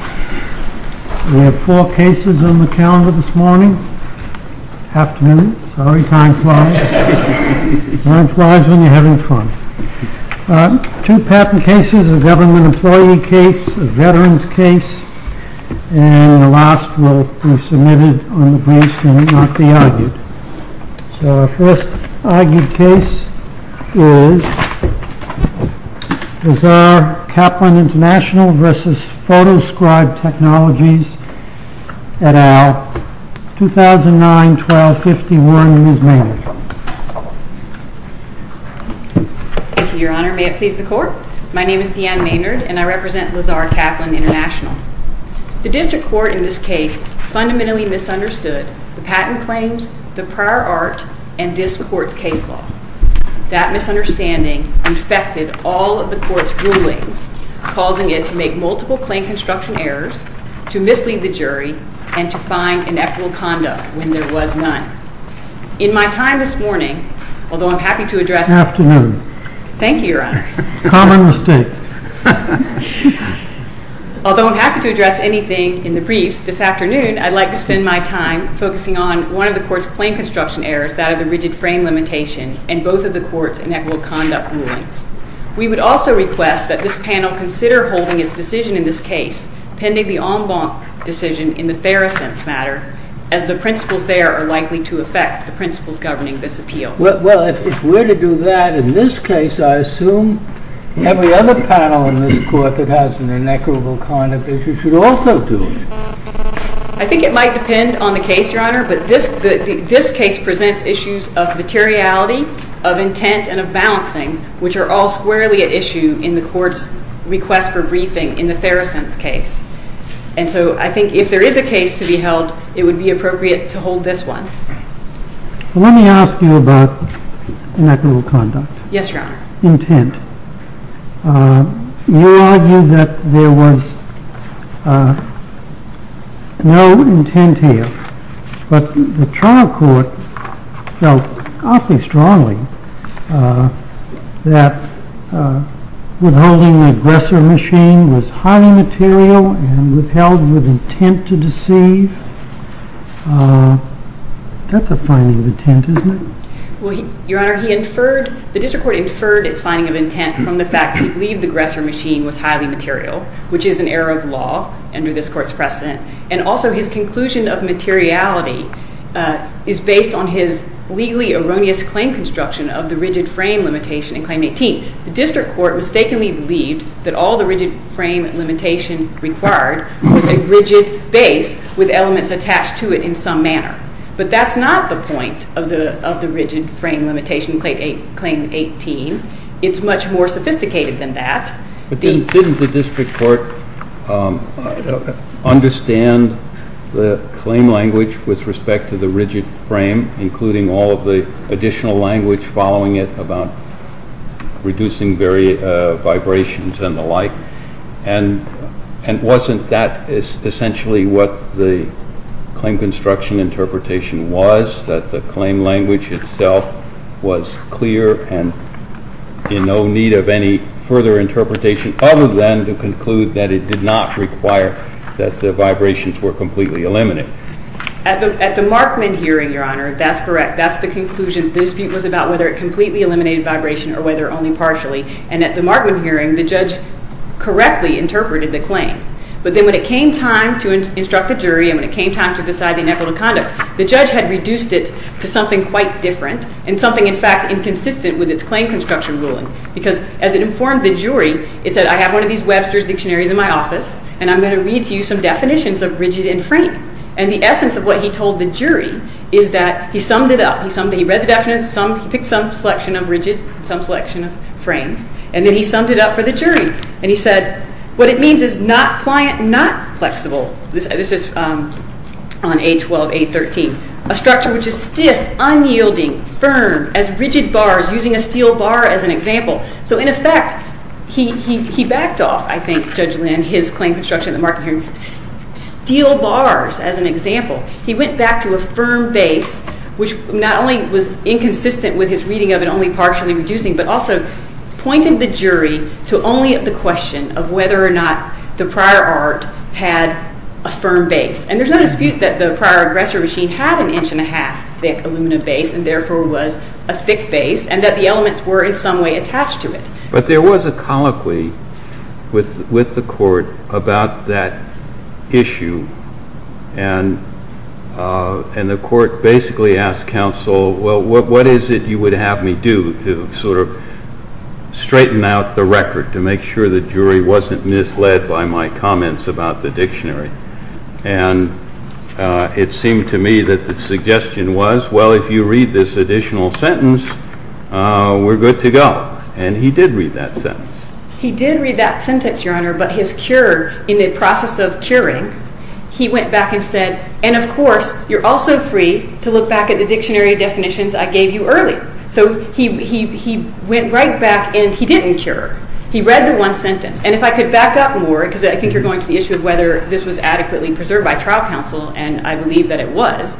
We have four cases on the calendar this morning, afternoon, sorry time flies, time flies when you're having fun. Two patent cases, a government employee case, a veterans case, and the last will be submitted on the briefs and not be argued. So our first argued case is Lazare Kaplan International v. Photoscribe Technologies et al., 2009-12-51, Ms. Maynard. Thank you, Your Honor. May it please the Court? My name is Deanne Maynard and I represent Lazare Kaplan International. The District Court in this case fundamentally misunderstood the patent claims, the prior art, and this Court's case law. That misunderstanding infected all of the Court's rulings, causing it to make multiple claim construction errors, to mislead the jury, and to find inequitable conduct when there was none. In my time this morning, although I'm happy to address… Afternoon. Thank you, Your Honor. Common mistake. Although I'm happy to address anything in the briefs this afternoon, I'd like to spend my time focusing on one of the Court's claim construction errors, that of the rigid frame limitation, and both of the Court's inequitable conduct rulings. We would also request that this panel consider holding its decision in this case, pending the en banc decision in the fair assent matter, as the principles there are likely to affect the principles governing this appeal. Well, if we're to do that in this case, I assume every other panel in this Court that has an inequitable conduct issue should also do it. I think it might depend on the case, Your Honor, but this case presents issues of materiality, of intent, and of balancing, which are all squarely at issue in the Court's request for briefing in the fair assent case. And so I think if there is a case to be held, it would be appropriate to hold this one. Let me ask you about inequitable conduct. Yes, Your Honor. Intent. You argue that there was no intent here, but the trial court felt awfully strongly that withholding the aggressor machine was highly material and withheld with intent to deceive. That's a finding of intent, isn't it? Well, Your Honor, the district court inferred its finding of intent from the fact that it believed the aggressor machine was highly material, which is an error of law under this Court's precedent. And also, his conclusion of materiality is based on his legally erroneous claim construction of the rigid frame limitation in Claim 18. The district court mistakenly believed that all the rigid frame limitation required was a rigid base with elements attached to it in some manner. But that's not the point of the rigid frame limitation in Claim 18. It's much more sophisticated than that. But didn't the district court understand the claim language with respect to the rigid frame, including all of the additional language following it about reducing vibrations and the like? And wasn't that essentially what the claim construction interpretation was, that the claim language itself was clear and in no need of any further interpretation other than to conclude that it did not require that the vibrations were completely eliminated? At the Markman hearing, Your Honor, that's correct. That's the conclusion. The dispute was about whether it completely eliminated vibration or whether only partially. And at the Markman hearing, the judge correctly interpreted the claim. But then when it came time to instruct the jury and when it came time to decide the inevitable conduct, the judge had reduced it to something quite different and something, in fact, inconsistent with its claim construction ruling. Because as it informed the jury, it said, I have one of these Webster's dictionaries in my office, and I'm going to read to you some definitions of rigid and frame. And the essence of what he told the jury is that he summed it up. He read the definitions. He picked some selection of rigid and some selection of frame. And then he summed it up for the jury. And he said, what it means is not pliant, not flexible. This is on A12, A13. A structure which is stiff, unyielding, firm, as rigid bars, using a steel bar as an example. So in effect, he backed off, I think, Judge Lynn, his claim construction at the Markman hearing, steel bars as an example. He went back to a firm base, which not only was inconsistent with his reading of it, only partially reducing, but also pointed the jury to only the question of whether or not the prior art had a firm base. And there's no dispute that the prior aggressor machine had an inch and a half thick aluminum base, and therefore was a thick base, and that the elements were in some way attached to it. But there was a colloquy with the court about that issue. And the court basically asked counsel, well, what is it you would have me do to sort of straighten out the record, to make sure the jury wasn't misled by my comments about the dictionary? And it seemed to me that the suggestion was, well, if you read this additional sentence, we're good to go. And he did read that sentence. He did read that sentence, Your Honor. But his cure, in the process of curing, he went back and said, and of course, you're also free to look back at the dictionary definitions I gave you early. So he went right back, and he didn't cure. He read the one sentence. And if I could back up more, because I think you're going to the issue of whether this was adequately preserved by trial counsel, and I believe that it was.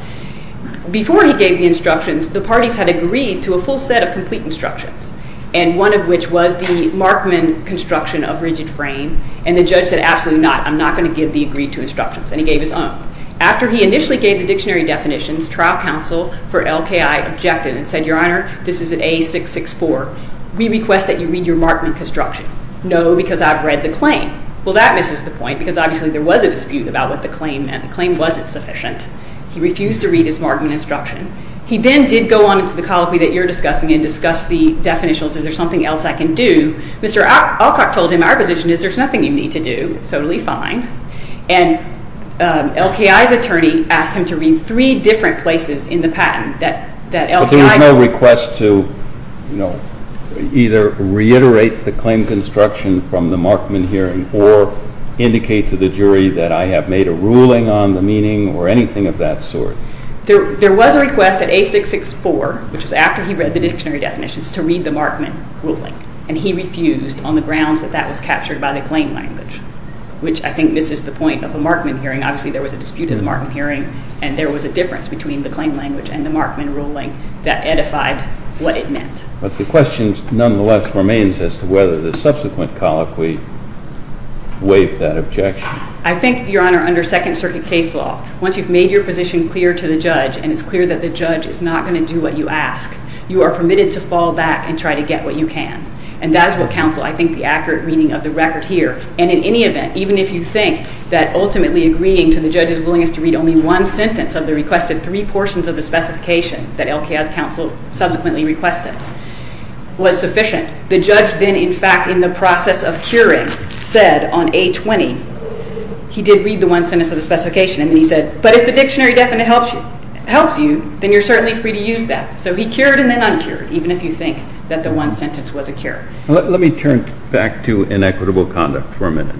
Before he gave the instructions, the parties had agreed to a full set of complete instructions, and one of which was the Markman construction of rigid frame. And the judge said, absolutely not. I'm not going to give the agreed to instructions. And he gave his own. After he initially gave the dictionary definitions, trial counsel for LKI objected and said, Your Honor, this is an A664. We request that you read your Markman construction. No, because I've read the claim. Well, that misses the point, because obviously there was a dispute about what the claim meant. The claim wasn't sufficient. He refused to read his Markman instruction. He then did go on to the colloquy that you're discussing and discuss the definitionals. Is there something else I can do? Mr. Alcock told him, our position is there's nothing you need to do. It's totally fine. And LKI's attorney asked him to read three different places in the patent that LKI. But there was no request to either reiterate the claim construction from the Markman hearing or indicate to the jury that I have made a ruling on the meaning or anything of that sort. There was a request at A664, which was after he read the dictionary definitions, to read the Markman ruling. And he refused on the grounds that that was captured by the claim language, which I think misses the point of a Markman hearing. Obviously, there was a dispute in the Markman hearing, and there was a difference between the claim language and the Markman ruling that edified what it meant. But the question nonetheless remains as to whether the subsequent colloquy waived that objection. I think, Your Honor, under Second Circuit case law, once you've made your position clear to the judge and it's clear that the judge is not going to do what you ask, you are permitted to fall back and try to get what you can. And that is what counsel, I think, the accurate reading of the record here. And in any event, even if you think that ultimately agreeing to the judge's willingness to read only one sentence of the requested three portions of the specification that LKI's counsel subsequently requested was sufficient, the judge then, in fact, in the process of curing, said on A20, he did read the one sentence of the specification. And then he said, but if the dictionary definite helps you, then you're certainly free to use that. So he cured and then uncured, even if you think that the one sentence was a cure. Let me turn back to inequitable conduct for a minute.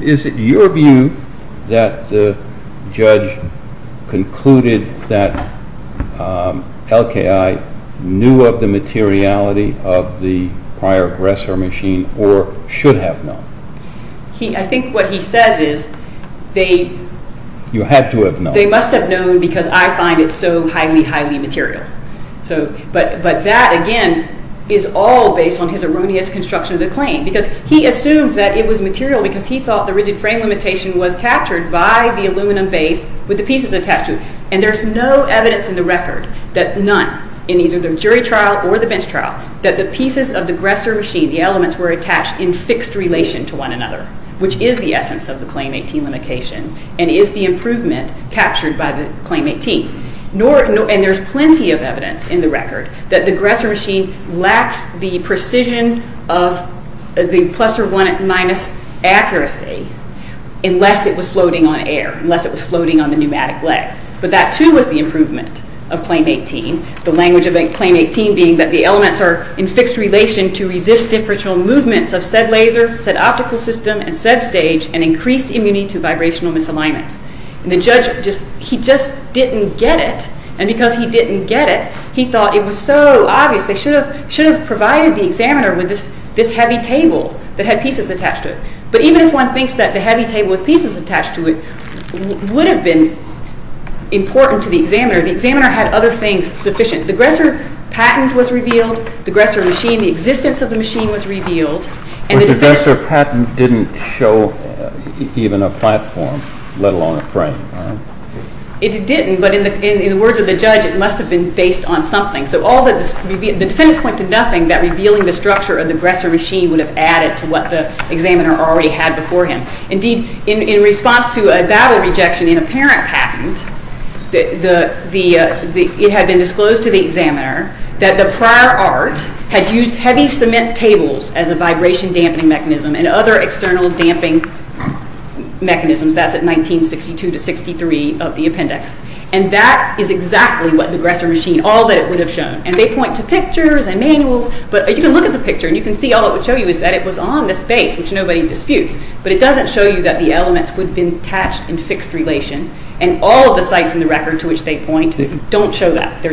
Is it your view that the judge concluded that LKI knew of the materiality of the prior aggressor machine or should have known? I think what he says is they must have known because I find it so highly, highly material. But that, again, is all based on his erroneous construction of the claim because he assumes that it was material because he thought the rigid frame limitation was captured by the aluminum base with the pieces attached to it. And there's no evidence in the record that none, in either the jury trial or the bench trial, that the pieces of the aggressor machine, the elements were attached in fixed relation to one another, which is the essence of the Claim 18 limitation and is the improvement captured by the Claim 18. And there's plenty of evidence in the record that the aggressor machine lacked the precision of the plus or minus accuracy unless it was floating on air, unless it was floating on the pneumatic legs. But that, too, was the improvement of Claim 18, the language of Claim 18 being that the elements are in fixed relation to resist differential movements of said laser, said optical system, and said stage, and increased immunity to vibrational misalignments. And the judge, he just didn't get it. And because he didn't get it, he thought it was so obvious. They should have provided the examiner with this heavy table that had pieces attached to it. But even if one thinks that the heavy table with pieces attached to it would have been important to the examiner, the examiner had other things sufficient. The aggressor patent was revealed. The aggressor machine, the existence of the machine was revealed. But the aggressor patent didn't show even a platform, let alone a frame, right? It didn't, but in the words of the judge, it must have been based on something. So the defendants point to nothing that revealing the structure of the aggressor machine would have added to what the examiner already had before him. Indeed, in response to a battle rejection in a parent patent, it had been disclosed to the examiner that the prior art had used heavy cement tables as a vibration dampening mechanism and other external damping mechanisms. That's at 1962 to 63 of the appendix. And that is exactly what the aggressor machine, all that it would have shown. And they point to pictures and manuals, but you can look at the picture and you can see all it would show you is that it was on this base, which nobody disputes. But it doesn't show you that the elements would have been attached in fixed relation. And all of the sites in the record to which they point don't show that. There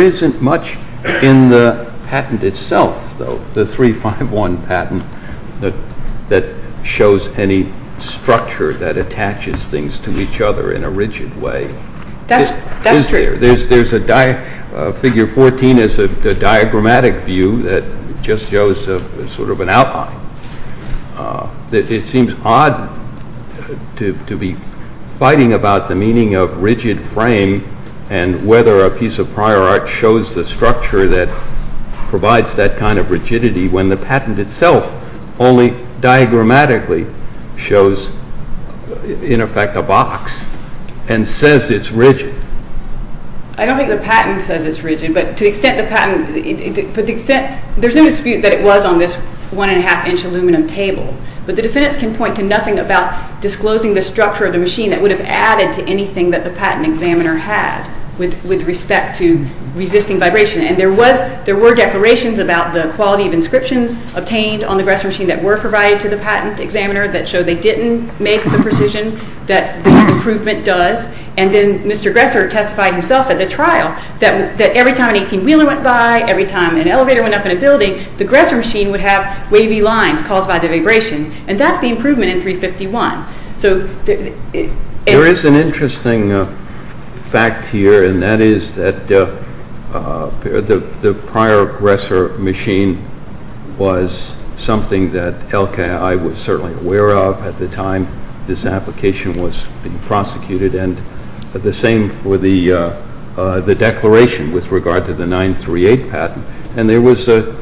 isn't much in the patent itself, though, the 351 patent that shows any structure that attaches things to each other in a rigid way. That's true. There's a figure 14 is a diagrammatic view that just shows sort of an outline. It seems odd to be fighting about the meaning of rigid frame and whether a piece of prior art shows the structure that provides that kind of rigidity when the patent itself only diagrammatically shows, in effect, a box and says it's rigid. I don't think the patent says it's rigid, but to the extent the patent, there's no dispute that it was on this one-and-a-half-inch aluminum table. But the defendants can point to nothing about disclosing the structure of the machine that would have added to anything that the patent examiner had with respect to resisting vibration. And there were declarations about the quality of inscriptions obtained on the Gressor machine that were provided to the patent examiner that showed they didn't make the precision that the improvement does. And then Mr. Gressor testified himself at the trial that every time an 18-wheeler went by, every time an elevator went up in a building, the Gressor machine would have wavy lines caused by the vibration. And that's the improvement in 351. There is an interesting fact here, and that is that the prior Gressor machine was something that LKI was certainly aware of at the time this application was being prosecuted, and the same for the declaration with regard to the 938 patent. And there was a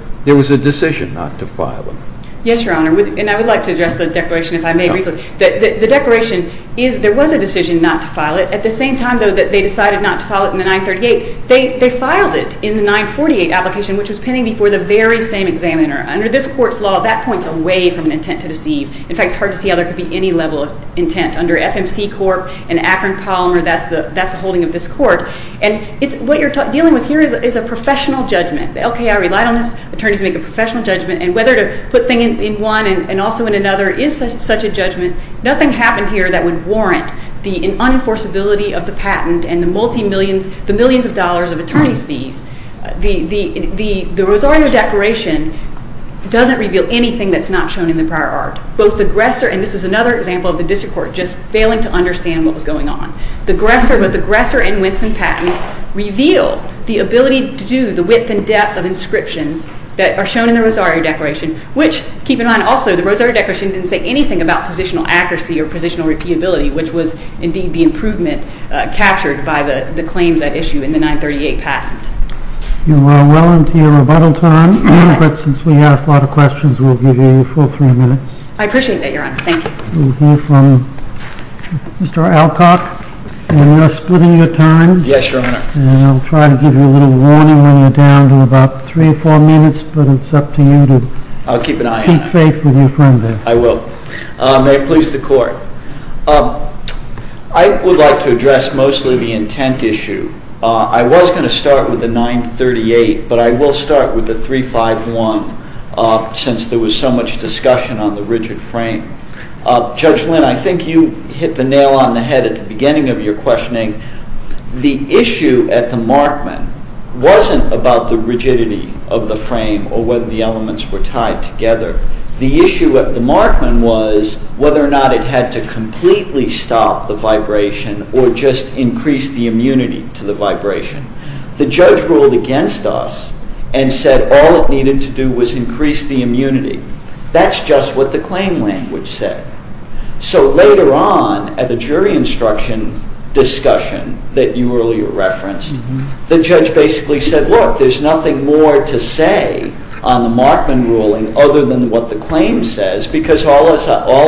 decision not to file it. Yes, Your Honor, and I would like to address the declaration if I may briefly. The declaration is there was a decision not to file it. At the same time, though, that they decided not to file it in the 938, they filed it in the 948 application, which was pending before the very same examiner. Under this court's law, that points away from an intent to deceive. In fact, it's hard to see how there could be any level of intent. Under FMC Corp. and Akron Polymer, that's the holding of this court. And what you're dealing with here is a professional judgment. The LKI relied on this. Attorneys make a professional judgment. And whether to put a thing in one and also in another is such a judgment. Nothing happened here that would warrant the unenforceability of the patent and the millions of dollars of attorneys' fees. The Rosario Declaration doesn't reveal anything that's not shown in the prior art. Both the Gressor, and this is another example of the district court just failing to understand what was going on. Both the Gressor and Winston patents reveal the ability to do the width and depth of inscriptions that are shown in the Rosario Declaration, which, keep in mind also, the Rosario Declaration didn't say anything about positional accuracy or positional repeatability, which was indeed the improvement captured by the claims at issue in the 938 patent. You are well into your rebuttal time. But since we asked a lot of questions, we'll give you a full three minutes. I appreciate that, Your Honor. Thank you. We'll hear from Mr. Alcock. We're now splitting your time. Yes, Your Honor. And I'll try to give you a little warning when you're down to about three or four minutes, but it's up to you to keep faith with your friend there. I will. May it please the Court. I would like to address mostly the intent issue. I was going to start with the 938, but I will start with the 351, since there was so much discussion on the rigid frame. Judge Lynn, I think you hit the nail on the head at the beginning of your questioning. The issue at the Markman wasn't about the rigidity of the frame or whether the elements were tied together. The issue at the Markman was whether or not it had to completely stop the vibration or just increase the immunity to the vibration. The judge ruled against us and said all it needed to do was increase the immunity. That's just what the claim language said. So later on at the jury instruction discussion that you earlier referenced, the judge basically said, look, there's nothing more to say on the Markman ruling other than what the claim says because all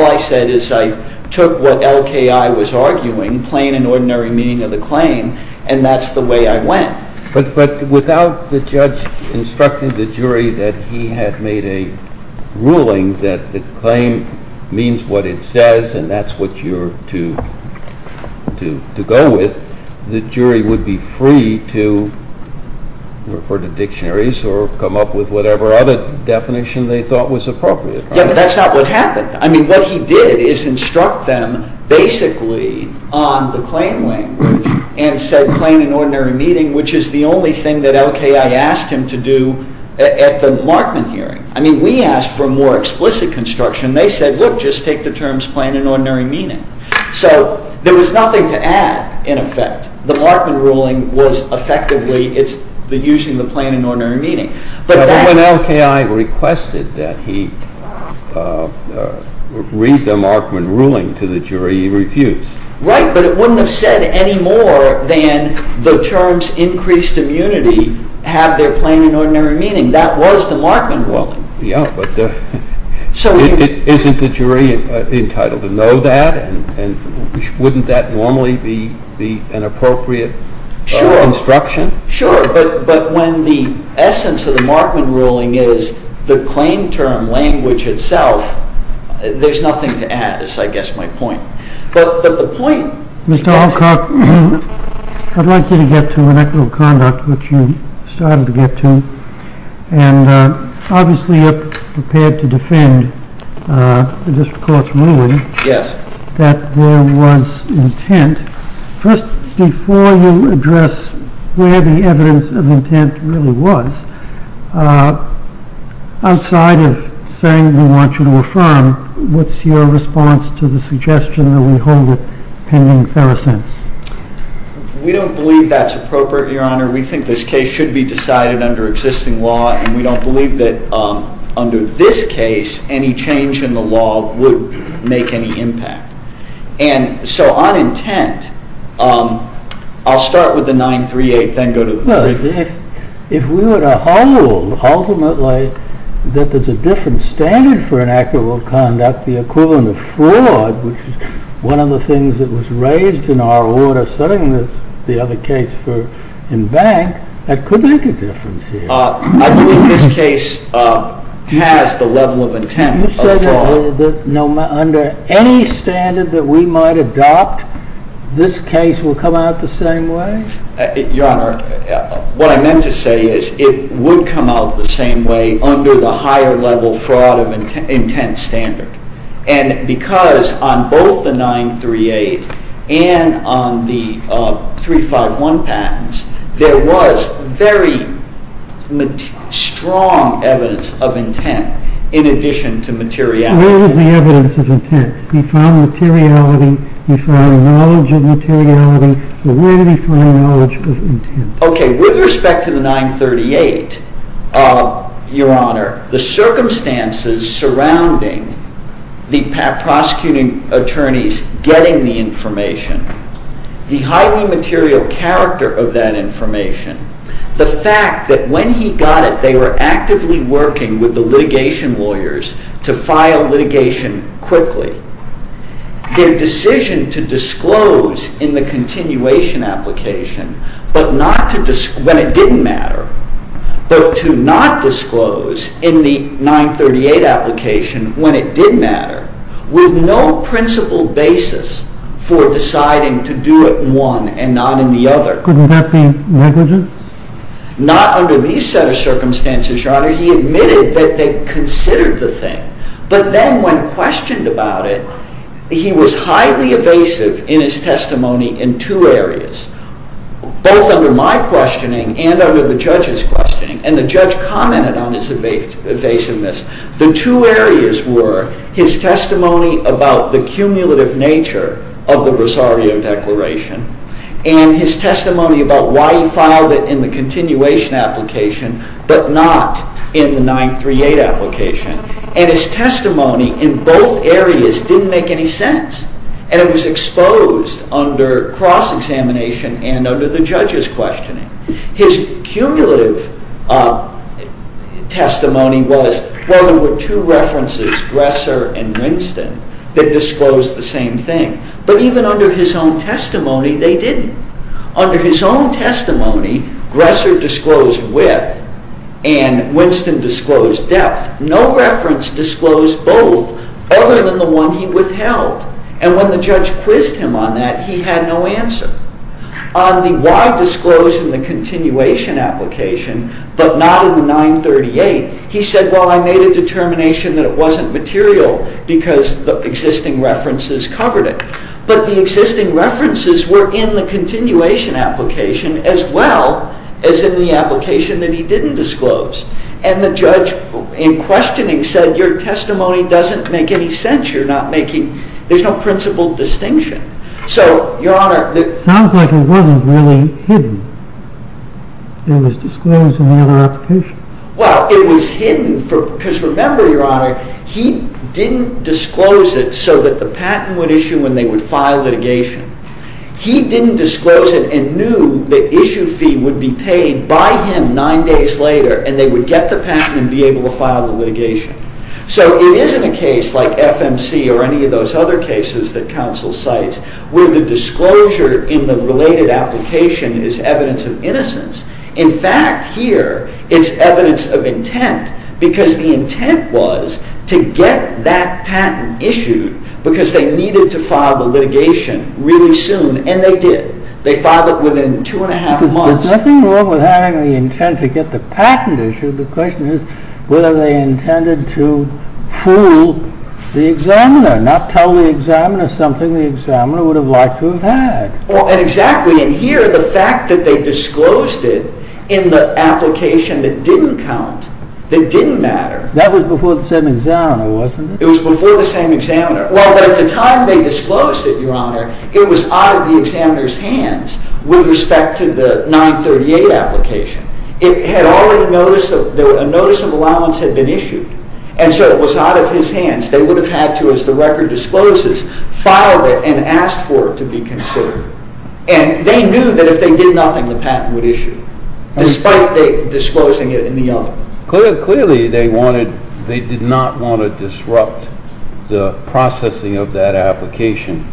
I said is I took what LKI was arguing, plain and ordinary meaning of the claim, and that's the way I went. But without the judge instructing the jury that he had made a ruling that the claim means what it says and that's what you're to go with, the jury would be free to refer to dictionaries or come up with whatever other definition they thought was appropriate. Yeah, but that's not what happened. I mean, what he did is instruct them basically on the claim language and said plain and ordinary meaning, which is the only thing that LKI asked him to do at the Markman hearing. I mean, we asked for more explicit construction. They said, look, just take the terms plain and ordinary meaning. So there was nothing to add in effect. The Markman ruling was effectively using the plain and ordinary meaning. But when LKI requested that he read the Markman ruling to the jury, he refused. Right, but it wouldn't have said any more than the terms increased immunity have their plain and ordinary meaning. I mean, that was the Markman ruling. Yeah, but isn't the jury entitled to know that? And wouldn't that normally be an appropriate instruction? Sure. But when the essence of the Markman ruling is the claim term language itself, there's nothing to add is, I guess, my point. But the point... Mr. Alcock, I'd like you to get to an act of conduct which you started to get to. And obviously, you're prepared to defend the district court's ruling that there was intent. First, before you address where the evidence of intent really was, outside of saying we want you to affirm, what's your response to the suggestion that we hold with pending Ferrisense? We don't believe that's appropriate, Your Honor. We think this case should be decided under existing law, and we don't believe that under this case, any change in the law would make any impact. And so on intent, I'll start with the 938, then go to the brief. Well, if we were to hold, ultimately, that there's a different standard for an act of conduct, the equivalent of fraud, which is one of the things that was raised in our order, setting the other case in bank, that could make a difference here. I believe this case has the level of intent of fraud. You said that under any standard that we might adopt, this case will come out the same way? Your Honor, what I meant to say is it would come out the same way under the higher level fraud of intent standard. And because on both the 938 and on the 351 patents, there was very strong evidence of intent in addition to materiality. Where was the evidence of intent? We found materiality, we found knowledge of materiality, but where did we find knowledge of intent? Okay, with respect to the 938, Your Honor, the circumstances surrounding the prosecuting attorneys getting the information, the highly material character of that information, the fact that when he got it, they were actively working with the litigation lawyers to file litigation quickly. Their decision to disclose in the continuation application, when it didn't matter, but to not disclose in the 938 application, when it did matter, with no principled basis for deciding to do it in one and not in the other. Couldn't that be negligence? Not under these set of circumstances, Your Honor. He admitted that they considered the thing, but then when questioned about it, he was highly evasive in his testimony in two areas, both under my questioning and under the judge's questioning, and the judge commented on his evasiveness. The two areas were his testimony about the cumulative nature of the Rosario Declaration and his testimony about why he filed it in the continuation application but not in the 938 application. And his testimony in both areas didn't make any sense, and it was exposed under cross-examination and under the judge's questioning. His cumulative testimony was, well, there were two references, Gresser and Winston, that disclosed the same thing, but even under his own testimony, they didn't. Under his own testimony, Gresser disclosed width and Winston disclosed depth. No reference disclosed both other than the one he withheld, and when the judge quizzed him on that, he had no answer. On the why disclosed in the continuation application but not in the 938, he said, well, I made a determination that it wasn't material because the existing references covered it. But the existing references were in the continuation application as well as in the application that he didn't disclose, and the judge in questioning said, your testimony doesn't make any sense. There's no principled distinction. So, Your Honor, It sounds like it wasn't really hidden. It was disclosed in the other application. Well, it was hidden, because remember, Your Honor, he didn't disclose it so that the patent would issue when they would file litigation. He didn't disclose it and knew the issue fee would be paid by him nine days later, and they would get the patent and be able to file the litigation. So it isn't a case like FMC or any of those other cases that counsel cites where the disclosure in the related application is evidence of innocence. In fact, here, it's evidence of intent because the intent was to get that patent issued because they needed to file the litigation really soon, and they did. They filed it within two and a half months. But nothing wrong with having the intent to get the patent issued. The question is, were they intended to fool the examiner, not tell the examiner something the examiner would have liked to have had? Well, exactly. And here, the fact that they disclosed it in the application that didn't count, that didn't matter. That was before the same examiner, wasn't it? It was before the same examiner. Well, at the time they disclosed it, Your Honor, it was out of the examiner's hands with respect to the 938 application. A notice of allowance had been issued, and so it was out of his hands. They would have had to, as the record discloses, file it and ask for it to be considered. And they knew that if they did nothing, the patent would issue, despite disclosing it in the other. Clearly, they did not want to disrupt the processing of that application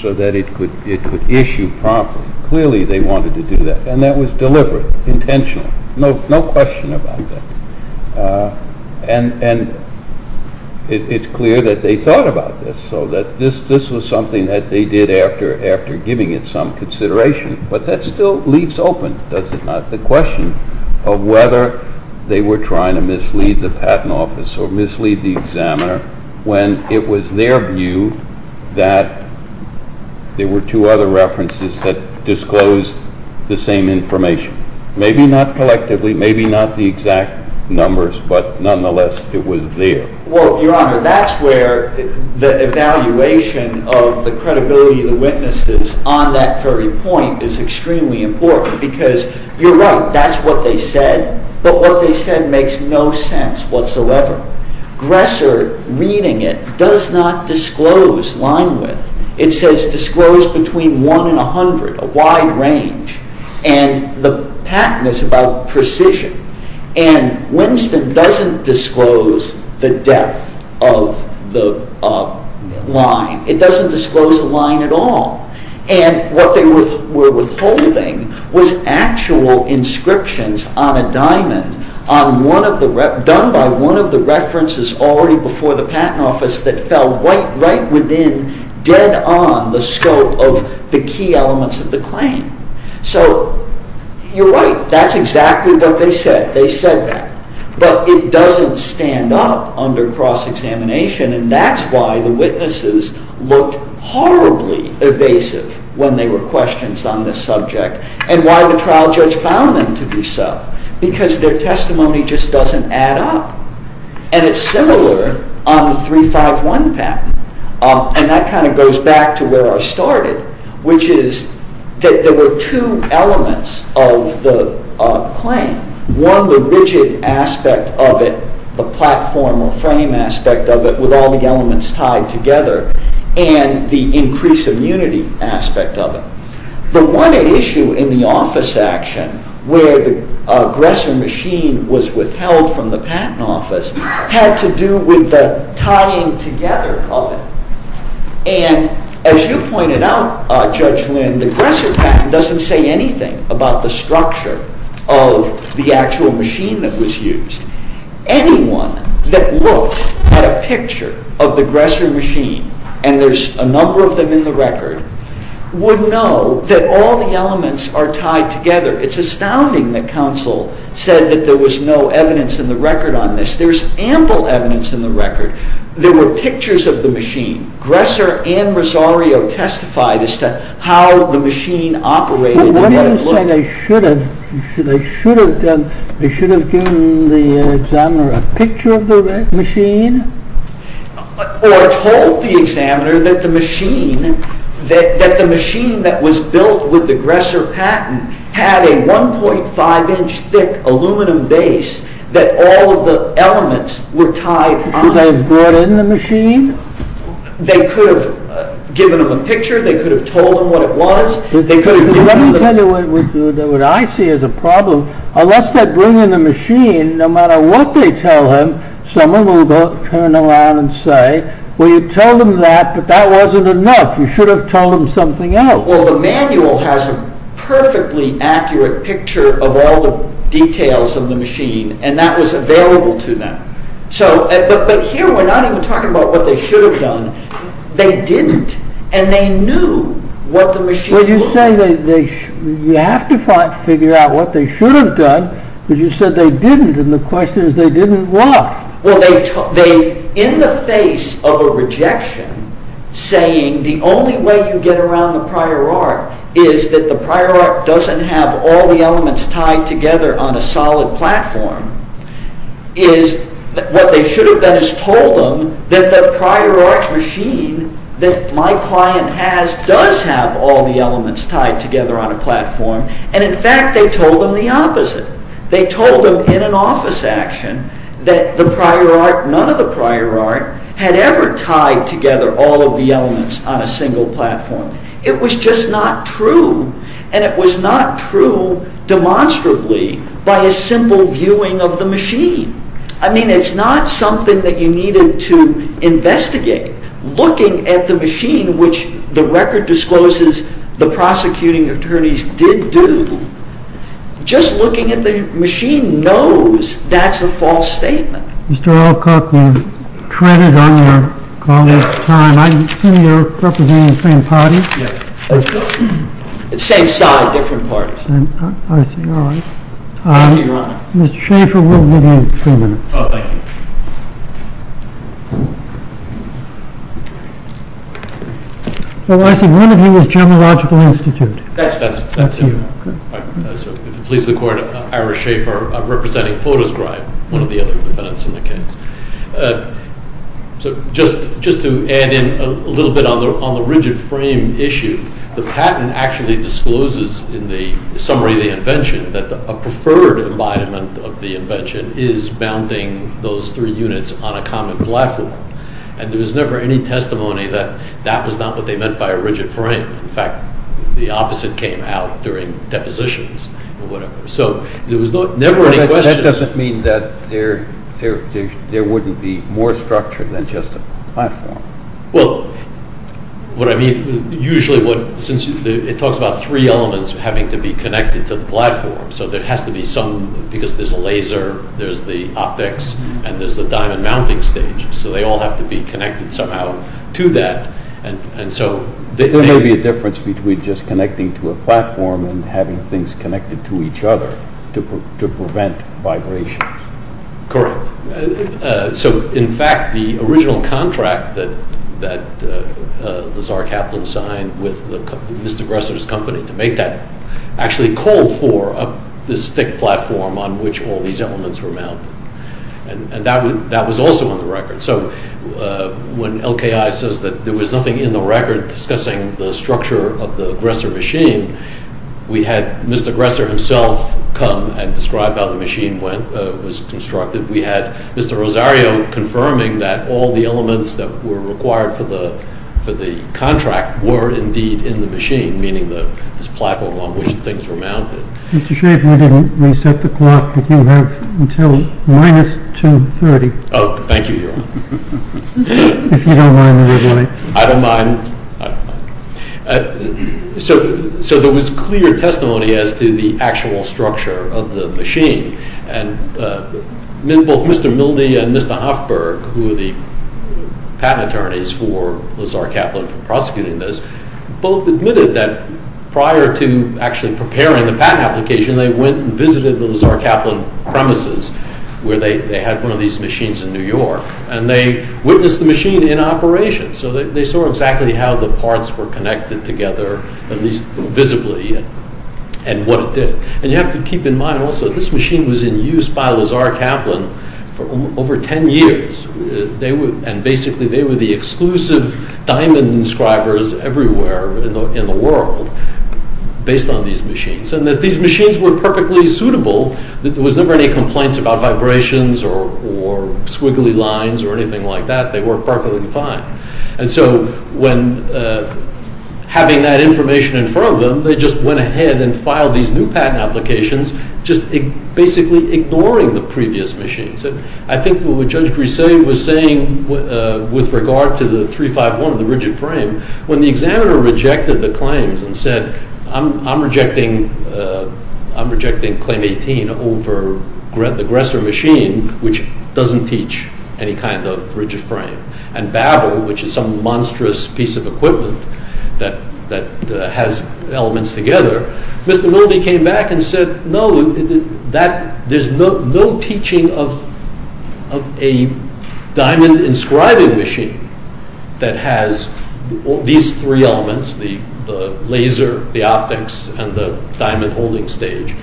so that it could issue properly. Clearly, they wanted to do that, and that was deliberate, intentional. No question about that. And it's clear that they thought about this, so that this was something that they did after giving it some consideration. But that still leaves open, does it not, the question of whether they were trying to mislead the patent office or mislead the examiner when it was their view that there were two other references that disclosed the same information. Maybe not collectively, maybe not the exact numbers, but nonetheless, it was there. Well, Your Honor, that's where the evaluation of the credibility of the witnesses on that very point is extremely important, because you're right, that's what they said, but what they said makes no sense whatsoever. Gresser, reading it, does not disclose line width. It says disclosed between 1 and 100, a wide range, and the patent is about precision. And Winston doesn't disclose the depth of the line. It doesn't disclose the line at all. And what they were withholding was actual inscriptions on a diamond done by one of the references already before the patent office that fell right within, dead on, the scope of the key elements of the claim. So you're right, that's exactly what they said. They said that. But it doesn't stand up under cross-examination, and that's why the witnesses looked horribly evasive when they were questioned on this subject, and why the trial judge found them to be so, because their testimony just doesn't add up. And it's similar on the 351 patent, and that kind of goes back to where I started, which is that there were two elements of the claim. One, the rigid aspect of it, the platform or frame aspect of it with all the elements tied together, and the increased immunity aspect of it. The one issue in the office action where the Gresser machine was withheld from the patent office had to do with the tying together of it. And as you pointed out, Judge Lynn, the Gresser patent doesn't say anything about the structure of the actual machine that was used. Anyone that looked at a picture of the Gresser machine, and there's a number of them in the record, would know that all the elements are tied together. It's astounding that counsel said that there was no evidence in the record on this. There's ample evidence in the record. There were pictures of the machine. Gresser and Rosario testified as to how the machine operated. What do you say they should have done? They should have given the examiner a picture of the machine? Or told the examiner that the machine that was built with the Gresser patent had a 1.5-inch thick aluminum base that all of the elements were tied on? Should they have brought in the machine? They could have given him a picture. They could have told him what it was. Let me tell you what I see as a problem. Unless they bring in the machine, no matter what they tell him, someone will turn around and say, well, you told him that, but that wasn't enough. You should have told him something else. Well, the manual has a perfectly accurate picture of all the details of the machine, and that was available to them. But here we're not even talking about what they should have done. They didn't, and they knew what the machine was. You have to figure out what they should have done, because you said they didn't, and the question is, they didn't what? Well, in the face of a rejection, saying the only way you get around the prior art is that the prior art doesn't have all the elements tied together on a solid platform, is what they should have done is told them that the prior art machine that my client has does have all the elements tied together on a platform, and in fact, they told them the opposite. They told them in an office action that the prior art, none of the prior art, had ever tied together all of the elements on a single platform. It was just not true, and it was not true demonstrably by a simple viewing of the machine. I mean, it's not something that you needed to investigate. Looking at the machine, which the record discloses the prosecuting attorneys did do, just looking at the machine knows that's a false statement. Mr. Alcock, you've treaded on your colleague's time. I assume you're representing the same party? Yes. Same side, different parties. I see, all right. Mr. Schaefer, we'll give you three minutes. Oh, thank you. So I see one of you is General Logical Institute. That's him. The police of the court of Ira Schaefer representing Photoscribe, one of the other defendants in the case. So just to add in a little bit on the rigid frame issue, the patent actually discloses in the summary of the invention that a preferred embodiment of the invention is bounding those three units on a common platform, and there was never any testimony that that was not what they meant by a rigid frame. In fact, the opposite came out during depositions or whatever. So there was never any question... That doesn't mean that there wouldn't be more structure than just a platform. Well, what I mean, usually what, since it talks about three elements having to be connected to the platform, so there has to be some, because there's a laser, there's the optics, and there's the diamond mounting stage, so they all have to be connected somehow to that, and so... There may be a difference between just connecting to a platform and having things connected to each other to prevent vibrations. Correct. So, in fact, the original contract that Lazar Kaplan signed with Mr. Gresser's company to make that actually called for this thick platform on which all these elements were mounted, and that was also on the record. So when LKI says that there was nothing in the record discussing the structure of the Gresser machine, we had Mr. Gresser himself come and describe how the machine was constructed. We had Mr. Rosario confirming that all the elements that were required for the contract were indeed in the machine, meaning this platform on which things were mounted. Mr. Shrave, we didn't reset the clock, but you have until minus 2.30. Oh, thank you, Your Honor. If you don't mind, we'll do it. I don't mind. So there was clear testimony as to the actual structure of the machine, and both Mr. Milde and Mr. Hoffberg, who were the patent attorneys for Lazar Kaplan for prosecuting this, both admitted that prior to actually preparing the patent application, they went and visited the Lazar Kaplan premises where they had one of these machines in New York, and they witnessed the machine in operation. So they saw exactly how the parts were connected together, at least visibly, and what it did. And you have to keep in mind also that this machine was in use by Lazar Kaplan for over ten years, and basically they were the exclusive diamond inscribers everywhere in the world based on these machines, and that these machines were perfectly suitable. There was never any complaints about vibrations or squiggly lines or anything like that. They worked perfectly fine. And so when having that information in front of them, they just went ahead and filed these new patent applications, just basically ignoring the previous machines. And I think what Judge Griselli was saying with regard to the 351, the rigid frame, when the examiner rejected the claims and said, I'm rejecting Claim 18 over the Gresser machine, which doesn't teach any kind of rigid frame, and Babel, which is some monstrous piece of equipment that has elements together, Mr. Milby came back and said, no, there's no teaching of a diamond inscribing machine that has these three elements, the laser, the optics, and the diamond holding stage,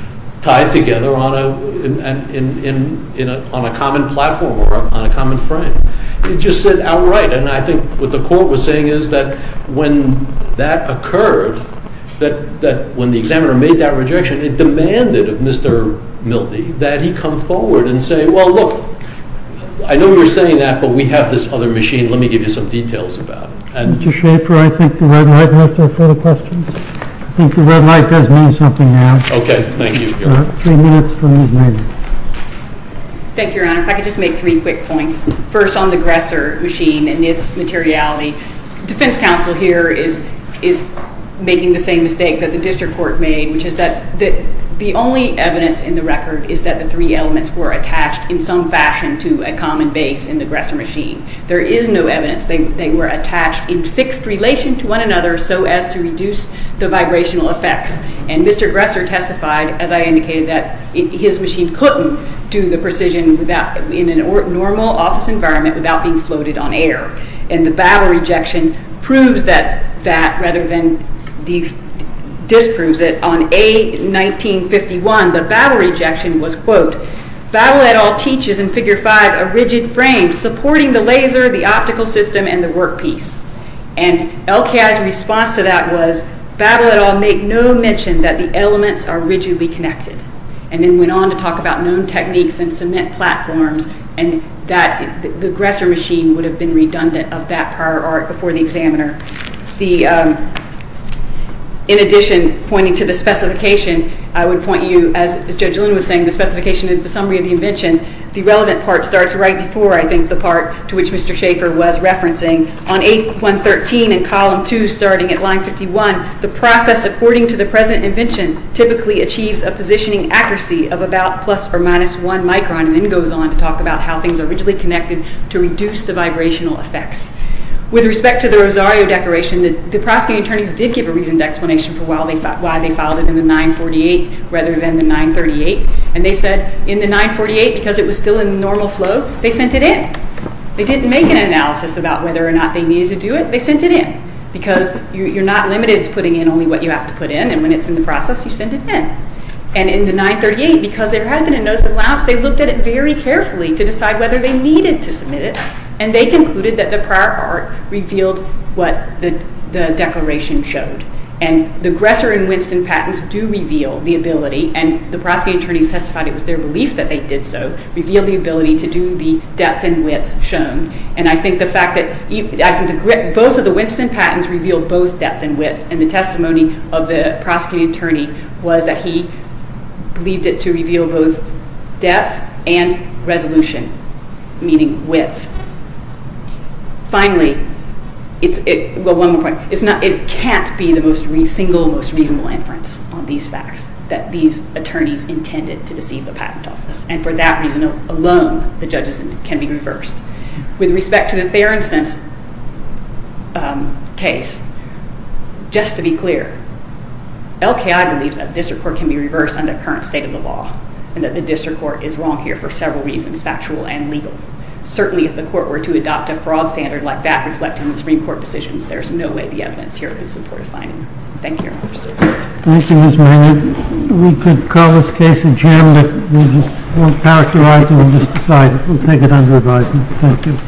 tied together on a common platform or on a common frame. It just said, all right. And I think what the court was saying is that when that occurred, that when the examiner made that rejection, it demanded of Mr. Milby that he come forward and say, well, look, I know you're saying that, but we have this other machine. Let me give you some details about it. Mr. Schaefer, I think the red light must have further questions. I think the red light does mean something now. Okay. Thank you. Thank you, Your Honor. If I could just make three quick points. First, on the Gresser machine and its materiality, defense counsel here is making the same mistake that the district court made, which is that the only evidence in the record is that the three elements were attached in some fashion to a common base in the Gresser machine. There is no evidence they were attached in fixed relation to one another so as to reduce the vibrational effects. And Mr. Gresser testified, as I indicated, that his machine couldn't do the precision in a normal office environment without being floated on air. And the battle rejection proves that rather than disproves it. On A-1951, the battle rejection was, quote, Battle et al. teaches in Figure 5 a rigid frame supporting the laser, the optical system, and the workpiece. And LKI's response to that was, he made no mention that the elements are rigidly connected and then went on to talk about known techniques and cement platforms and that the Gresser machine would have been redundant of that prior art before the examiner. In addition, pointing to the specification, I would point you, as Judge Luna was saying, the specification is the summary of the invention. The relevant part starts right before, I think, the part to which Mr. Schaefer was referencing. On A-113 in column 2, starting at line 51, the process according to the present invention typically achieves a positioning accuracy of about plus or minus one micron and then goes on to talk about how things are rigidly connected to reduce the vibrational effects. With respect to the Rosario Declaration, the prosecuting attorneys did give a reasoned explanation for why they filed it in the 948 rather than the 938. And they said in the 948, because it was still in normal flow, they sent it in. They didn't make an analysis about whether or not they needed to do it. They sent it in, because you're not limited to putting in only what you have to put in. And when it's in the process, you send it in. And in the 938, because there had been a notice of allowance, they looked at it very carefully to decide whether they needed to submit it. And they concluded that the prior art revealed what the declaration showed. And the Gresser and Winston patents do reveal the ability. And the prosecuting attorneys testified it was their belief that they did so, revealed the ability to do the depth and width shown. And I think the fact that both of the Winston patents revealed both depth and width. And the testimony of the prosecuting attorney was that he believed it to reveal both depth and resolution, meaning width. Finally, it can't be the single most reasonable inference on these facts that these attorneys intended to deceive the patent office. And for that reason alone, the judges can be reversed. With respect to the Fair and Sensible case, just to be clear, LKI believes that the district court can be reversed under current state of the law and that the district court is wrong here for several reasons, factual and legal. Certainly, if the court were to adopt a fraud standard like that reflecting the Supreme Court decisions, there's no way the evidence here could support a finding. Thank you, Your Honor. Thank you, Ms. Mahoney. We could call this case adjourned. We won't characterize it. We'll just decide it. We'll take it under advisement. Thank you.